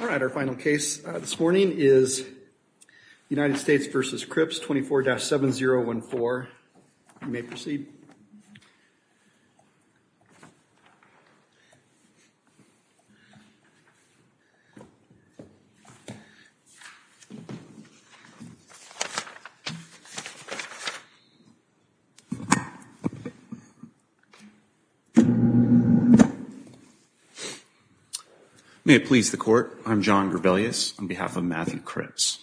All right, our final case this morning is United States v. Cripps, 24-7014. You may please stand. May it please the court, I'm John Grebelius on behalf of Matthew Cripps.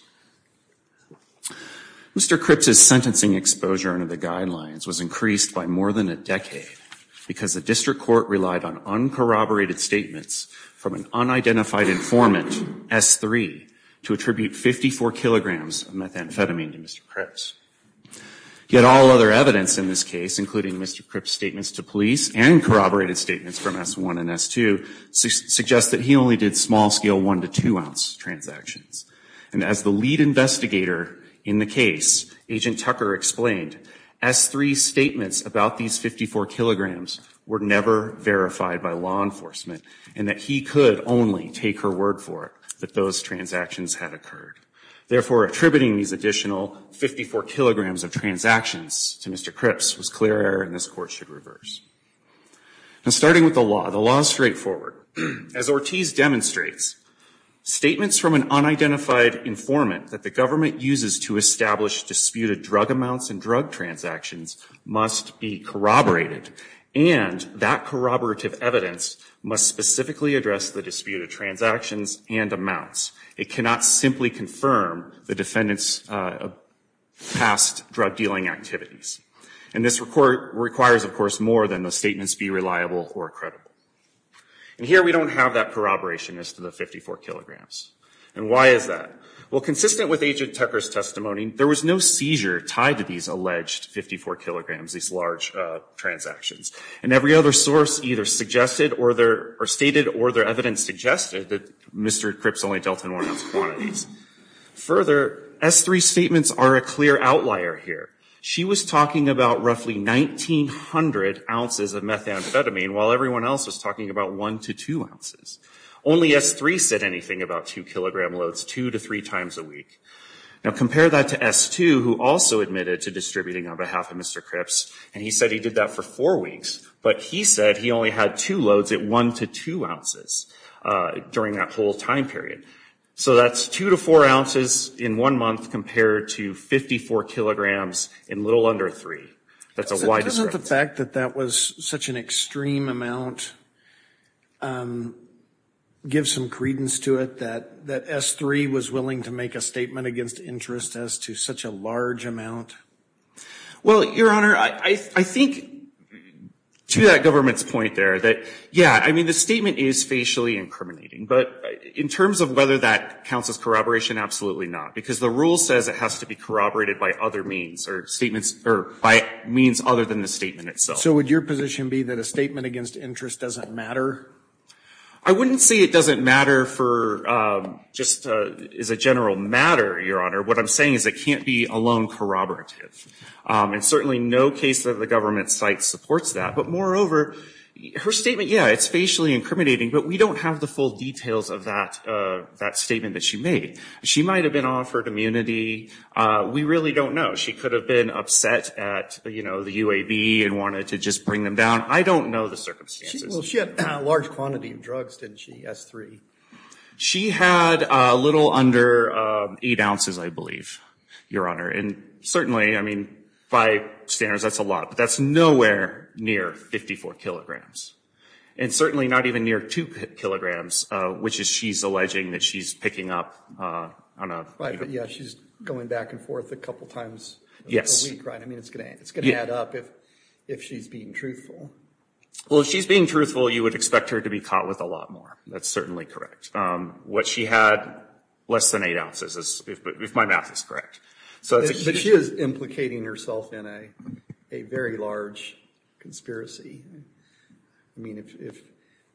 Mr. Cripps' sentencing exposure under the guidelines was increased by more than a decade because the district court relied on uncorroborated statements from an unidentified informant, S3, to attribute 54 kilograms of methamphetamine to Mr. Cripps. Yet all other evidence in this case, including Mr. Cripps' statements to police and corroborated statements from S1 and S2, suggest that he only did small-scale one- to two-ounce transactions. And as the lead investigator in the case, Agent Tucker explained, S3's statements about these 54 kilograms were never verified by law enforcement, and that he could only take her word for it that those transactions had occurred. Therefore, attributing these additional 54 kilograms of transactions to Mr. Cripps was clear error, and this Court should reverse. Starting with the law, the law is straightforward. As Ortiz demonstrates, statements from an unidentified informant that the government uses to establish disputed drug amounts and transactions must be corroborated, and that corroborative evidence must specifically address the disputed transactions and amounts. It cannot simply confirm the defendant's past drug-dealing activities. And this requires, of course, more than the statements be reliable or credible. And here, we don't have that corroboration as to the 54 kilograms. And why is that? Well, consistent with Agent Tucker's testimony, there was no seizure tied to these alleged 54 kilograms, these large transactions. And every other source either stated or their evidence suggested that Mr. Cripps only dealt in one-ounce quantities. Further, S3's statements are a clear outlier here. She was talking about roughly 1,900 ounces of methamphetamine, while everyone else was talking about one to two ounces. Only S3 said anything about two-kilogram loads two to three times a week. Now, compare that to S2, who also admitted to distributing on behalf of Mr. Cripps, and he said he did that for four weeks. But he said he only had two loads at one to two ounces during that whole time period. So that's two to four ounces in one month compared to 54 kilograms in little under three. That's a wide discrepancy. Isn't the fact that that was such an extreme amount give some credence to it that S3 was willing to make a statement against interest as to such a large amount? Well, Your Honor, I think to that government's point there that, yeah, I mean, the statement is facially incriminating. But in terms of whether that counts as corroboration, absolutely not. Because the rule says it has to be corroborated by other means or statements or by means other than the statement itself. So would your position be that a statement against interest doesn't matter? I wouldn't say it doesn't matter for just as a general matter, Your Honor. What I'm saying is it can't be alone corroborative. And certainly no case of the government's site supports that. But moreover, her statement, yeah, it's facially incriminating. But we don't have the full details of that statement that she made. She might have been offered immunity. We really don't know. She could have been upset at, you know, the UAB and wanted to just bring them down. I don't know the circumstances. Well, she had a large quantity of drugs, didn't she, S3? She had a little under 8 ounces, I believe, Your Honor. And certainly, I mean, by standards, that's a lot. But that's nowhere near 54 kilograms. And certainly not even near 2 kilograms, which is she's alleging that she's picking up on a... Right, but yeah, she's going back and forth a couple times a week, right? I mean, it's going to add up if she's being truthful. Well, if she's being truthful, you would expect her to be caught with a lot more. That's certainly correct. What she had, less than 8 ounces, if my math is correct. But she is implicating herself in a very large conspiracy. I mean, if,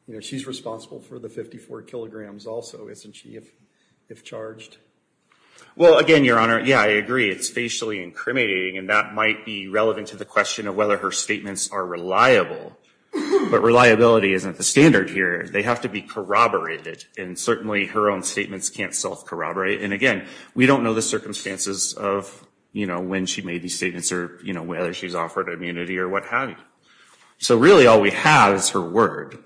you know, she's responsible for the 54 kilograms also, isn't she, if charged? Well, again, Your Honor, yeah, I agree. It's facially incriminating. And that might be relevant to the question of whether her statements are reliable. But reliability isn't the standard here. They have to be corroborated. And certainly, her own statements can't self-corroborate. And again, we don't know the circumstances of, you know, when she made these statements or, you know, whether she's offered immunity or what have you. So really, all we have is her word.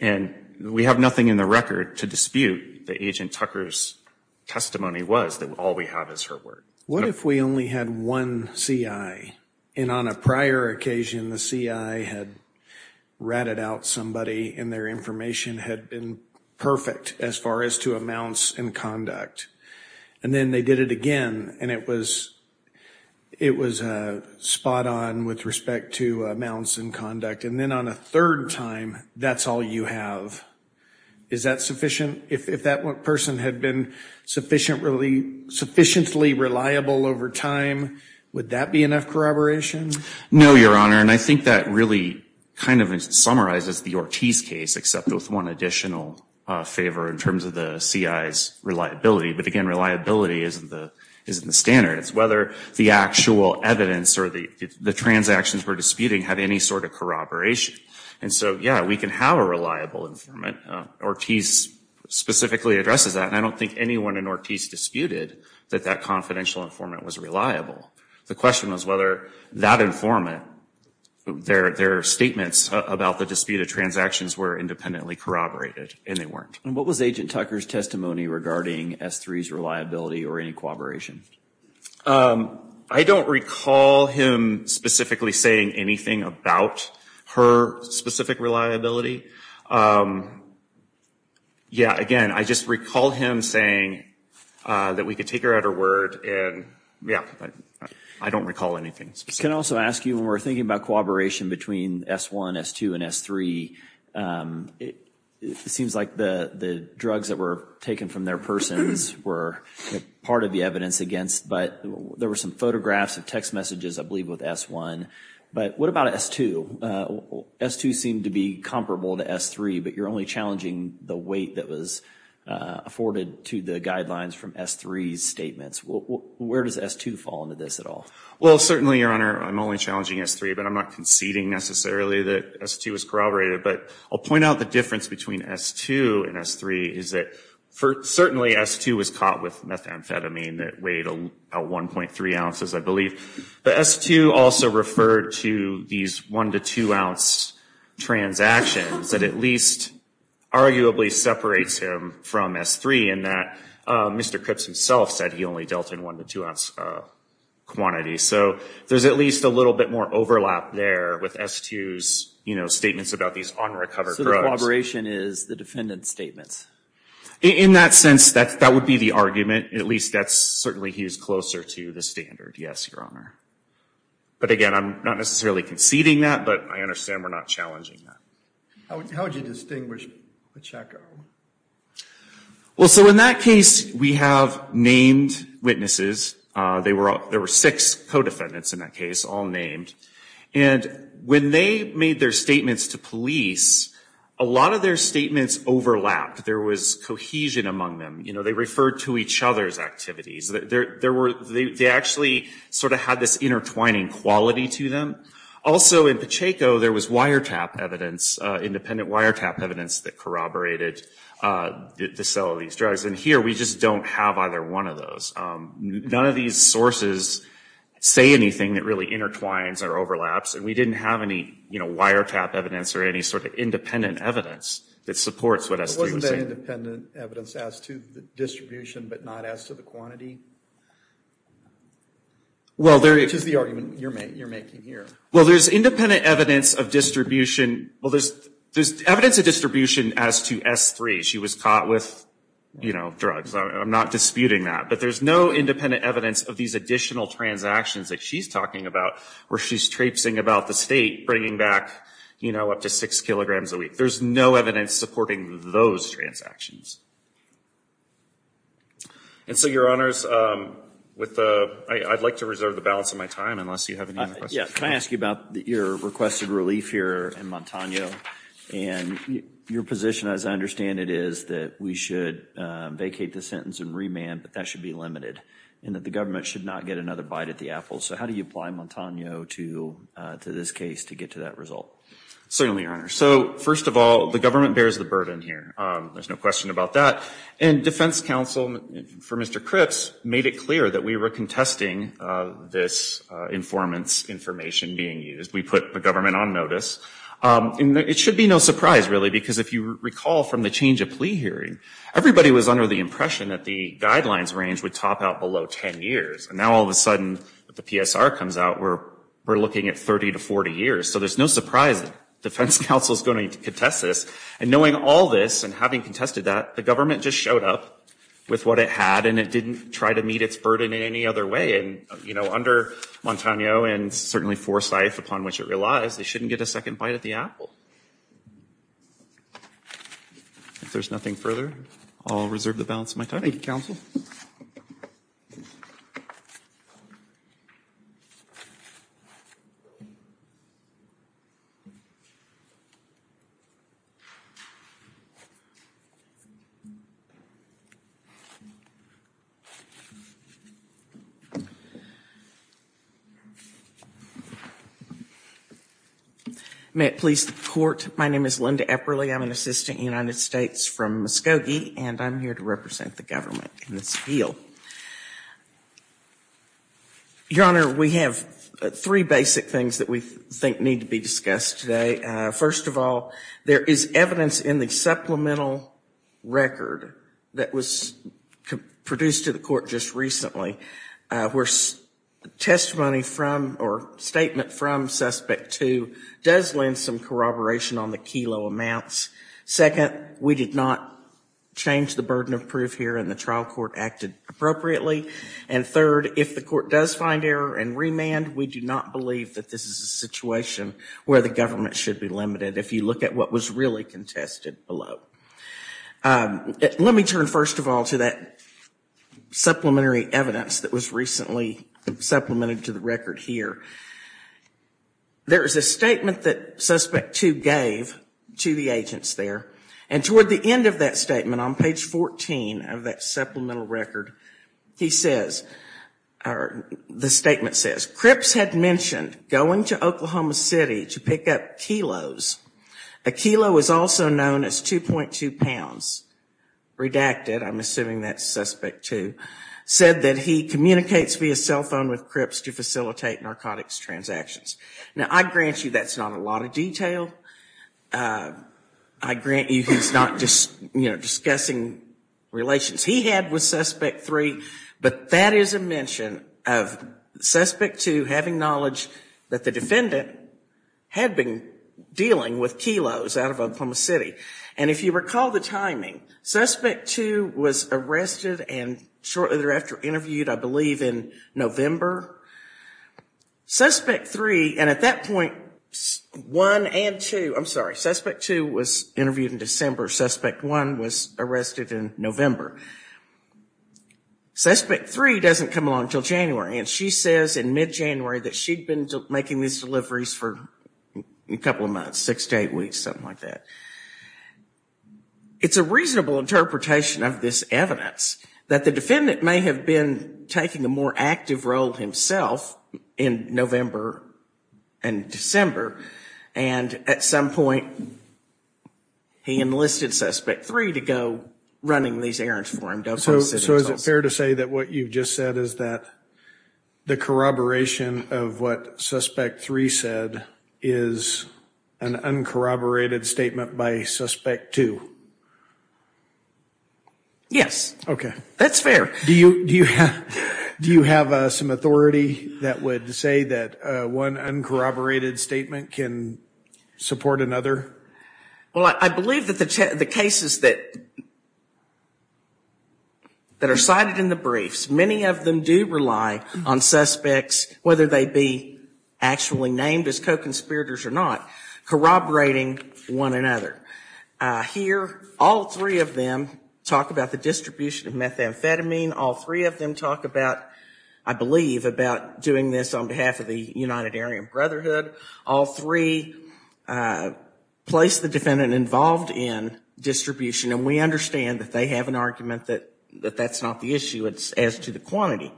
And we have nothing in the record to dispute that Agent Tucker's testimony was that all we have is her word. What if we only had one CI? And on a prior occasion, the CI had ratted out somebody and their information had been perfect as far as to amounts and conduct. And then they did it again. And it was spot on with respect to amounts and conduct. And then on a third time, that's all you have. Is that sufficient? If that person had been sufficiently reliable, over time, would that be enough corroboration? No, Your Honor. And I think that really kind of summarizes the Ortiz case, except with one additional favor in terms of the CI's reliability. But again, reliability isn't the standard. It's whether the actual evidence or the transactions we're disputing had any sort of corroboration. And so, yeah, we can have a reliable informant. Ortiz specifically addresses that. And I don't think anyone in Ortiz disputed that that confidential informant was reliable. The question was whether that informant, their statements about the disputed transactions were independently corroborated. And they weren't. And what was Agent Tucker's testimony regarding S3's reliability or any corroboration? I don't recall him specifically saying anything about her specific reliability. Yeah, again, I just recall him saying that we could take her at her word. And yeah, I don't recall anything specific. Can I also ask you, when we're thinking about corroboration between S1, S2, and S3, it seems like the drugs that were taken from their persons were part of the evidence against but there were some photographs and text messages, I believe, with S1. But what about S2? S2 seemed to be comparable to S3, but you're only challenging the weight that was afforded to the guidelines from S3's statements. Where does S2 fall into this at all? Well, certainly, Your Honor, I'm only challenging S3, but I'm not conceding necessarily that S2 was corroborated. But I'll point out the difference between S2 and S3 is that certainly S2 was caught with methamphetamine that weighed about 1.3 ounces, I believe. But S2 also referred to these 1 to 2 ounce transactions that at least arguably separates him from S3 in that Mr. Cripps himself said he only dealt in 1 to 2 ounce quantities. So there's at least a little bit more overlap there with S2's, you know, statements about these unrecovered So the corroboration is the defendant's statements? In that sense, that would be the argument. At least that's certainly he's closer to the standard, yes, Your Honor. But again, I'm not necessarily conceding that, but I understand we're not challenging that. How would you distinguish Pacheco? Well, so in that case, we have named witnesses. There were six co-defendants in that case, all named. And when they made their statements to police, a lot of their statements overlapped. There was cohesion among them. You know, they referred to each other's activities. They actually sort of had this intertwining quality to them. Also in Pacheco, there was wiretap evidence, independent wiretap evidence that corroborated the sale of these drugs. And here, we just don't have either one of those. None of these sources say anything that really intertwines or overlaps. And we didn't have any, you know, wiretap evidence or any sort of independent evidence that supports what S3 was saying. You say independent evidence as to the distribution, but not as to the quantity? Which is the argument you're making here. Well, there's independent evidence of distribution. Well, there's evidence of distribution as to S3. She was caught with, you know, drugs. I'm not disputing that. But there's no independent evidence of these additional transactions that she's talking about, where she's traipsing about the state, bringing back, you know, up to six kilograms a week. There's no evidence supporting those transactions. And so, Your Honors, with the – I'd like to reserve the balance of my time, unless you have any other questions. Yeah. Can I ask you about your requested relief here in Montano? And your position, as I understand it, is that we should vacate the sentence and remand, but that should be limited, and that the government should not get another bite at the apple. So how do you apply Montano to this case to get to that result? Certainly, Your Honor. So, first of all, the government bears the burden here. There's no question about that. And defense counsel, for Mr. Cripps, made it clear that we were contesting this informant's information being used. We put the government on notice. It should be no surprise, really, because if you recall from the change of plea hearing, everybody was under the impression that the guidelines range would top out below 10 years. And now, all of a sudden, the PSR comes out, we're looking at 30 to 40 years. So there's no surprise that defense counsel is going to contest this. And knowing all this and having contested that, the government just showed up with what it had, and it didn't try to meet its burden in any other way. And, you know, under Montano and certainly Forsyth, upon which it relies, they shouldn't get a second bite at the apple. If there's nothing further, I'll reserve the balance of my time. Thank you, counsel. May it please the Court, my name is Linda Epperly. I'm an assistant in the United States from Muskogee, and I'm here to represent the government in this appeal. Your Honor, we have three basic things that we think need to be discussed today. First of all, there is evidence in the supplemental record that was produced to the Court just recently, where testimony from or statement from Suspect 2 does lend some corroboration on the Kelo amounts. Second, we did not change the burden of proof here and the trial court acted appropriately. And third, if the court does find error and remand, we do not believe that this is a situation where the government should be limited, if you look at what was really contested below. Let me turn first of all to that supplementary evidence that was recently supplemented to the record here. There is a statement that Suspect 2 gave to the agents there, and toward the end of that statement, on page 14 of that supplemental record, he says, or the statement says, Cripps had mentioned going to Oklahoma City to pick up kilos. A kilo is also known as 2.2 pounds. Redacted, I'm assuming that's Suspect 2, said that he communicates via cell phone with Cripps to facilitate narcotics transactions. Now, I grant you that's not a lot of detail. I grant you he's not just, you know, discussing relations he had with Suspect 3, but that is a mention of Suspect 2 having knowledge that the defendant had been dealing with kilos out of Oklahoma City. And if you recall the timing, Suspect 2 was arrested and shortly thereafter interviewed, I believe, in November. Suspect 3, and at that point, 1 and 2, I'm sorry, Suspect 2 was interviewed in December. Suspect 1 was arrested in November. Suspect 3 doesn't come along until January, and she says in mid-January that she'd been making these deliveries for a couple of months, six to eight weeks, something like that. It's a reasonable interpretation of this evidence that the defendant may have been taking a more active role himself in November and December, and at some point, he enlisted Suspect 3 to go running these errands for him. So is it fair to say that what you've just said is that the corroboration of what Suspect 3 said is an uncorroborated statement by Suspect 2? Yes. Okay. That's fair. Do you have some authority that would say that one uncorroborated statement can support another? Well, I believe that the cases that are cited in the briefs, many of them do rely on suspects, whether they be actually named as co-conspirators or not, corroborating one another. Here, all three of them talk about the distribution of methamphetamine. All three of them talk about, I believe, about doing this on behalf of the United Aryan Brotherhood. All three place the defendant involved in distribution, and we understand that they have an argument that that's not the issue as to the quantity.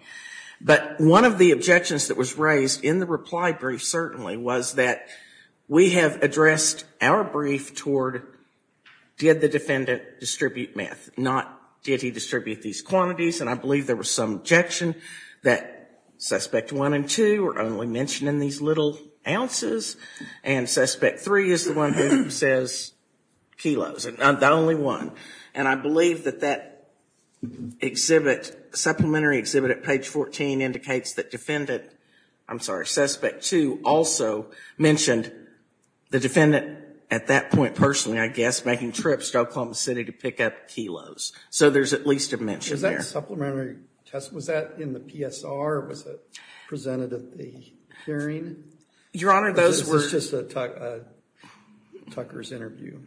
But one of the objections that was raised in the reply brief, certainly, was that we have addressed our brief toward did the defendant distribute meth, not did he distribute these quantities, and I believe there was some objection that Suspect 1 and 2 were only mentioning these little ounces, and Suspect 3 is the only one who says kilos, and I'm the only one, and I believe that that supplementary exhibit at page 14 indicates that Defendant, I'm sorry, Suspect 2 also mentioned the defendant at that point, personally, I guess, making trips to Oklahoma City to pick up kilos. So there's at least a mention there. Is that supplementary test, was that in the PSR, or was it presented at the hearing? Your Honor, those were... Or is this just a Tucker's interview?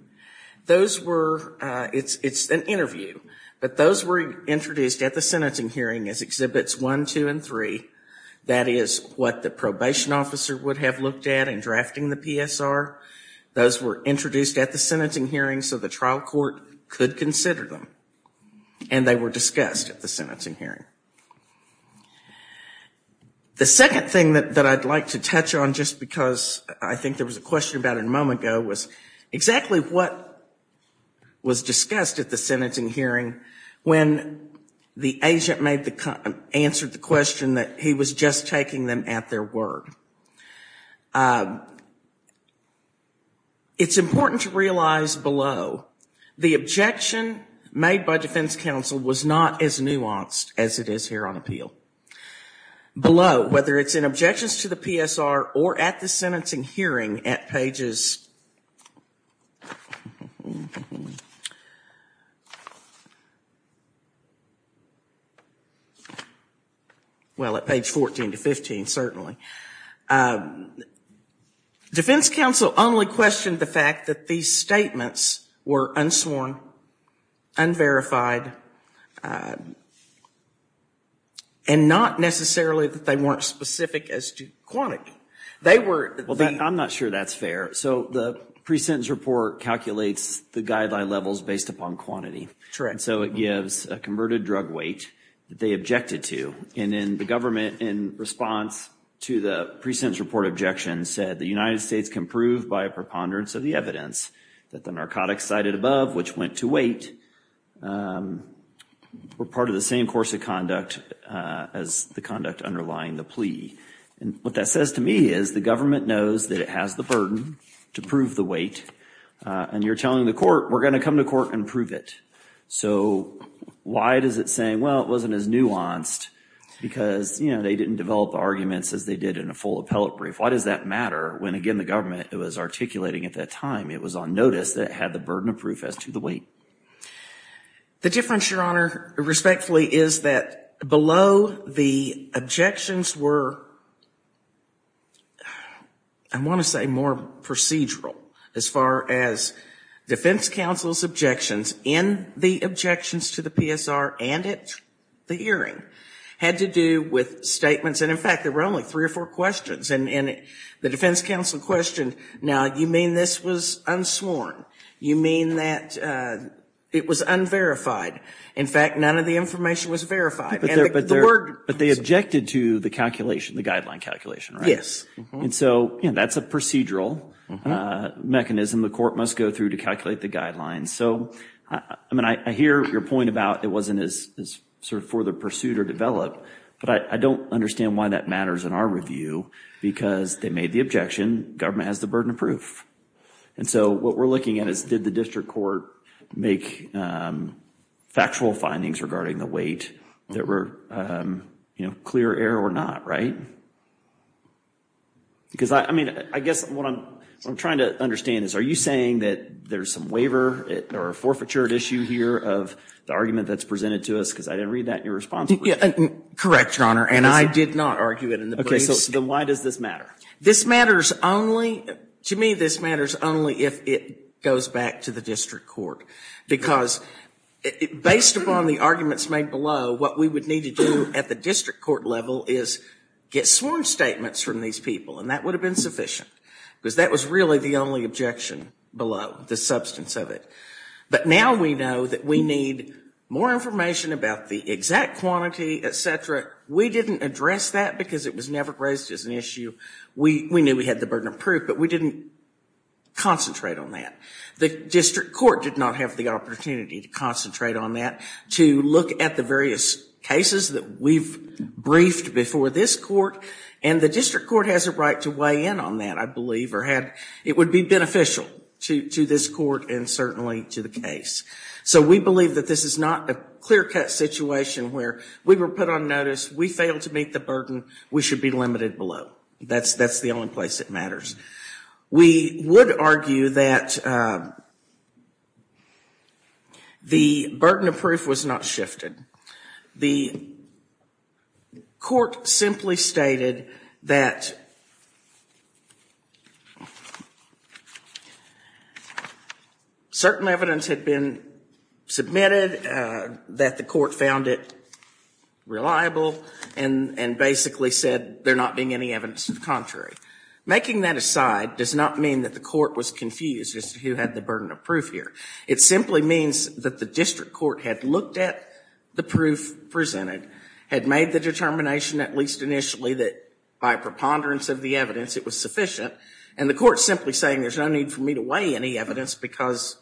Those were, it's an interview, but those were introduced at the sentencing hearing as Exhibits 1, 2, and 3. That is what the probation officer would have looked at in drafting the PSR. Those were introduced at the sentencing hearing so the trial court could consider them, and they were discussed at the sentencing hearing. The second thing that I'd like to touch on, just because I think there was a question about it a moment ago, was exactly what was discussed at the sentencing hearing when the agent answered the question that he was just taking them at their word. It's important to realize below, the objection made by defense counsel was not as nuanced as it is here on appeal. Below, whether it's in objections to the PSR or at the sentencing hearing at pages, well at page 14 to 15 certainly, defense counsel only questioned the fact that the statements were unsworn, unverified, and not necessarily that they weren't specific as to quantity. They were... I'm not sure that's fair. So the pre-sentence report calculates the guideline levels based upon quantity, and so it gives a converted drug weight that they objected to. And then the government, in response to the pre-sentence report objection, said the United States can prove by a preponderance of the evidence that the narcotics cited above, which went to weight, were part of the same course of conduct as the conduct underlying the plea. And what that says to me is the government knows that it has the burden to prove the weight, and you're telling the court, we're going to come to court and prove it. So why does it say, well it wasn't as nuanced, because they didn't develop the arguments as they did in a full appellate brief. Why does that matter when, again, the government was articulating at that time it was on notice that it had the burden of proof as to the weight? The difference, Your Honor, respectfully, is that below the objections were, I want to say, more procedural as far as defense counsel's objections in the objections to the PSR and at the hearing had to do with statements. And in fact, there were only three or four questions. And the defense counsel questioned, now, you mean this was unsworn? You mean that it was unverified? In fact, none of the information was verified. But they objected to the calculation, the guideline calculation, right? Yes. And so that's a procedural mechanism the court must go through to calculate the guidelines. So, I mean, I hear your point about it wasn't as, sort of, further pursued or developed, but I don't understand why that matters in our review because they made the objection, government has the burden of proof. And so what we're looking at is did the district court make factual findings regarding the weight that were, you know, clear error or not, right? Because, I mean, I guess what I'm trying to understand is are you saying that there's some waiver or a forfeiture issue here of the argument that's presented to us because I didn't read that in your response brief? Correct, Your Honor, and I did not argue it in the briefs. Okay, so then why does this matter? This matters only, to me, this matters only if it goes back to the district court. Because based upon the arguments made below, what we would need to do at the district court level is get sworn statements from these people. And that would have been sufficient because that was really the only objection below, the substance of it. But now we know that we need more information about the exact quantity, et cetera. We didn't address that because it was never raised as an issue. We knew we had the burden of proof, but we didn't concentrate on that. The district court did not have the opportunity to concentrate on that, to look at the various cases that we've briefed before this court. And the district court has a right to weigh in on that, I believe, or it would be beneficial to this court and certainly to the case. So we believe that this is not a clear-cut situation where we were put on notice, we failed to meet the burden, we should be limited below. That's the only place it We would argue that the burden of proof was not shifted. The court simply stated that certain evidence had been submitted that the court found it reliable and basically said there not being any evidence to the contrary. Making that aside does not mean that the court was confused as to who had the burden of proof here. It simply means that the district court had looked at the proof presented, had made the determination at least initially that by preponderance of the evidence it was sufficient, and the court simply saying there's no need for me to weigh any evidence because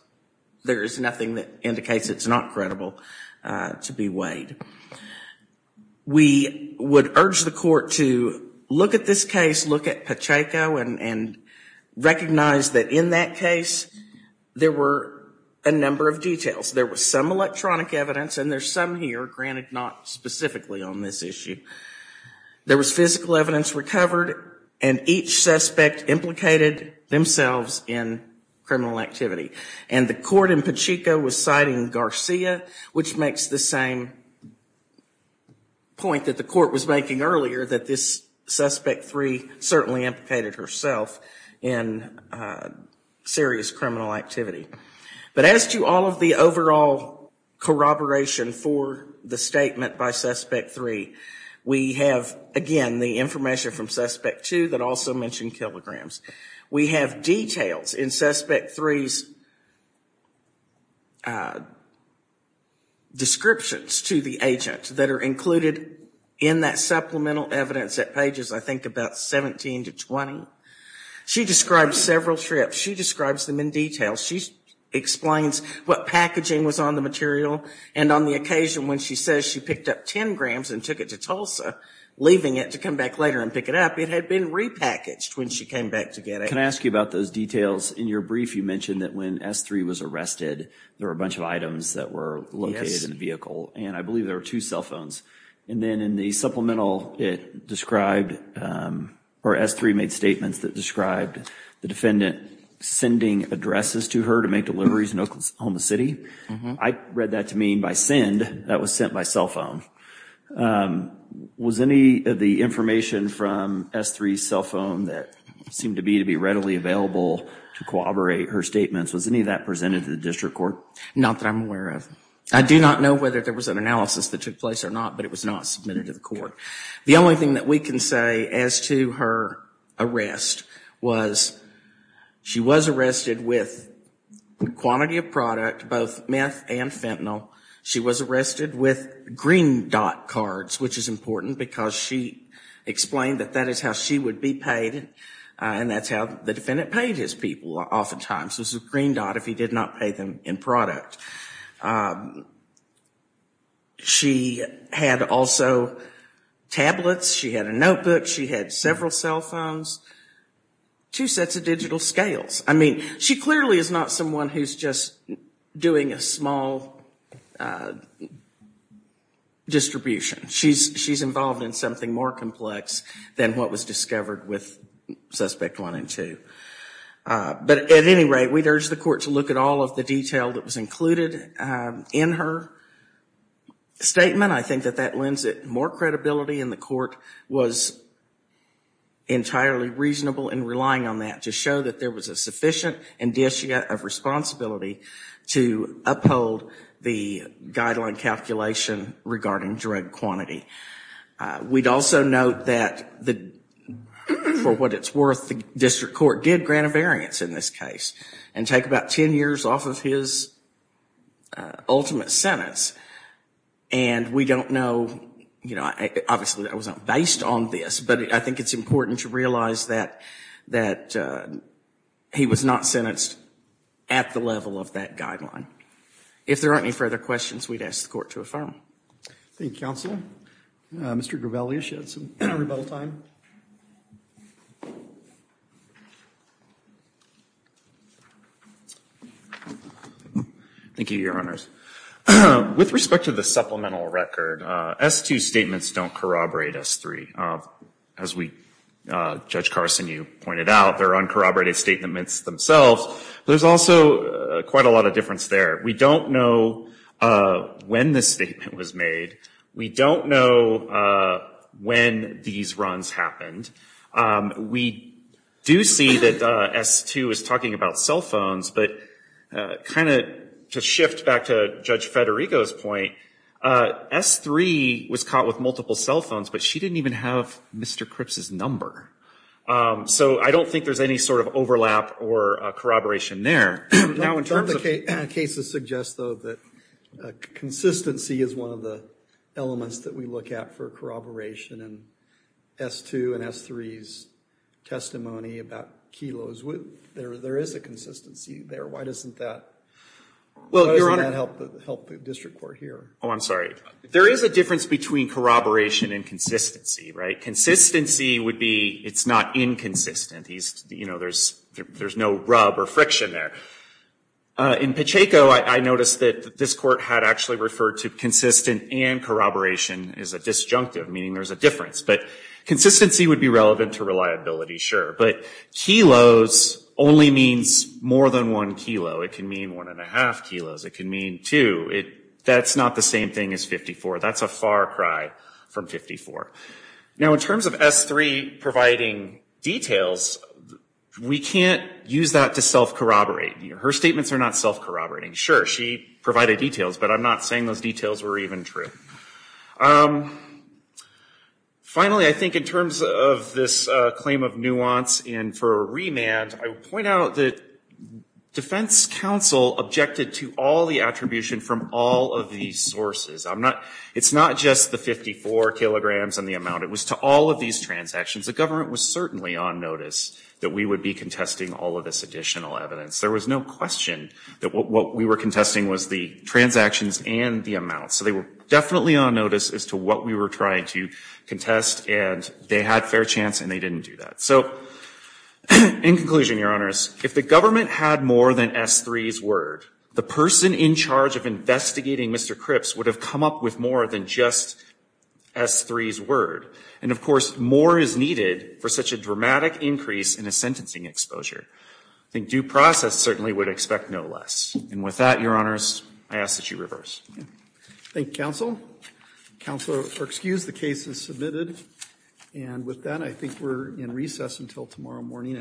there is nothing that indicates it's not credible to be weighed. We would urge the court to look at this case, look at Pacheco, and recognize that in that case there were a number of details. There was some electronic evidence, and there's some here, granted not specifically on this issue. There was physical evidence recovered and each suspect implicated themselves in criminal activity. And the court in Pacheco was citing Garcia, which makes the same point that the court was making earlier that this suspect three certainly implicated herself in serious criminal activity. But as to all the overall corroboration for the statement by suspect three, we have again the information from suspect two that also mentioned kilograms. We have details in suspect three's descriptions to the agent that are included in that supplemental evidence at pages, I think, about 17 to 20. She describes several trips. She describes them in detail. She explains what packaging was on the material, and on the occasion when she says she picked up 10 grams and took it to Tulsa, leaving it to come back later and pick it up, it had been repackaged when she came back to get it. Can I ask you about those details? In your brief you mentioned that when S3 was arrested there were a bunch of items that were located in the vehicle, and I believe there were two cell phones. And then in the supplemental it described, or S3 made statements that described the defendant sending addresses to her to make deliveries in Oklahoma City. I read that to mean by send, that was sent by cell phone. Was any of the information from S3's cell phone that seemed to be to be readily available to corroborate her statements, was any of that presented to the district court? Not that I'm aware of. I do not know whether there was an analysis that took place or not, but it was not submitted to the court. The only thing that we can say as to her arrest was she was arrested with quantity of product, both meth and fentanyl. She was arrested with green dot cards, which is important because she explained that that is how she would be paid, and that's how the defendant paid his people oftentimes, was a green dot if he did not pay them in product. She had also tablets, she had a notebook, she had several cell phones, two sets of digital scales. I mean, she clearly is not someone who's just doing a small distribution. She's involved in something more complex than what was discovered with Suspect 1 and 2. But at any rate, we'd urge the court to look at all of the detail that was included in her statement. I think that that lends it more credibility, and the court was entirely reasonable in relying on that to show that there was a sufficient indicia of responsibility to uphold the guideline calculation regarding drug quantity. We'd also note that for what it's worth, the district court did grant a variance in this case and take about 10 years off of his ultimate sentence. And we don't know, you know, obviously that wasn't based on this, but I think it's important to realize that he was not sentenced at the level of that guideline. If there aren't any further questions, we'd ask the court to affirm. Thank you, Counselor. Mr. Gravelius, you had some rebuttal time. Thank you, Your Honors. With respect to the supplemental record, S2 statements don't corroborate S3. As Judge Carson, you pointed out, they're uncorroborated statements themselves. There's also quite a lot of difference there. We don't know when this statement was made. We don't know when these runs happened. We do see that S2 is talking about cell phones, but kind of to shift back to Judge Federico's point, S3 was caught with multiple cell phones, but she didn't even have Mr. Cripps' number. So I don't think there's any sort of overlap or corroboration there. Some of the cases suggest, though, that consistency is one of the elements that we look at for corroboration in S2 and S3's testimony about kilos. There is a consistency there. Why doesn't that help the district court here? Oh, I'm sorry. There is a difference between corroboration and consistency, right? Consistency would be it's not inconsistent. There's no rub or friction there. In Pacheco, I noticed that this court had actually referred to consistent and corroboration as a disjunctive, meaning there's a difference. But consistency would be relevant to reliability, sure. But kilos only means more than one kilo. It can mean one and a half kilos. It can mean two. That's not the same thing as 54. That's a far cry from 54. Now, in terms of S3 providing details, we can't use that to self-corroborate. Her statements are not self-corroborating. Sure, she provided details, but I'm not saying those details were even true. Finally, I think in terms of this claim of nuance and for a remand, I would point out that defense counsel objected to all the attribution from all of these sources. It's not just the 54 kilograms and the amount. It was to all of these transactions. The government was certainly on notice that we would be contesting all of this additional evidence. There was no question that what we were contesting was the transactions and the amount. So they were definitely on notice as to what we were trying to contest, and they had fair chance and they didn't do that. So in conclusion, Your Honors, if the government had more than S3's word, the person in charge of investigating Mr. Cripps would have come up with more than just S3's word. And, of course, more is needed for such a dramatic increase in his sentencing exposure. I think due process certainly would expect no less. And with that, Your Honors, I ask that you reverse. Roberts. Thank you, counsel. Counselor, excuse the case is submitted. And with that, I think we're in recess until tomorrow morning.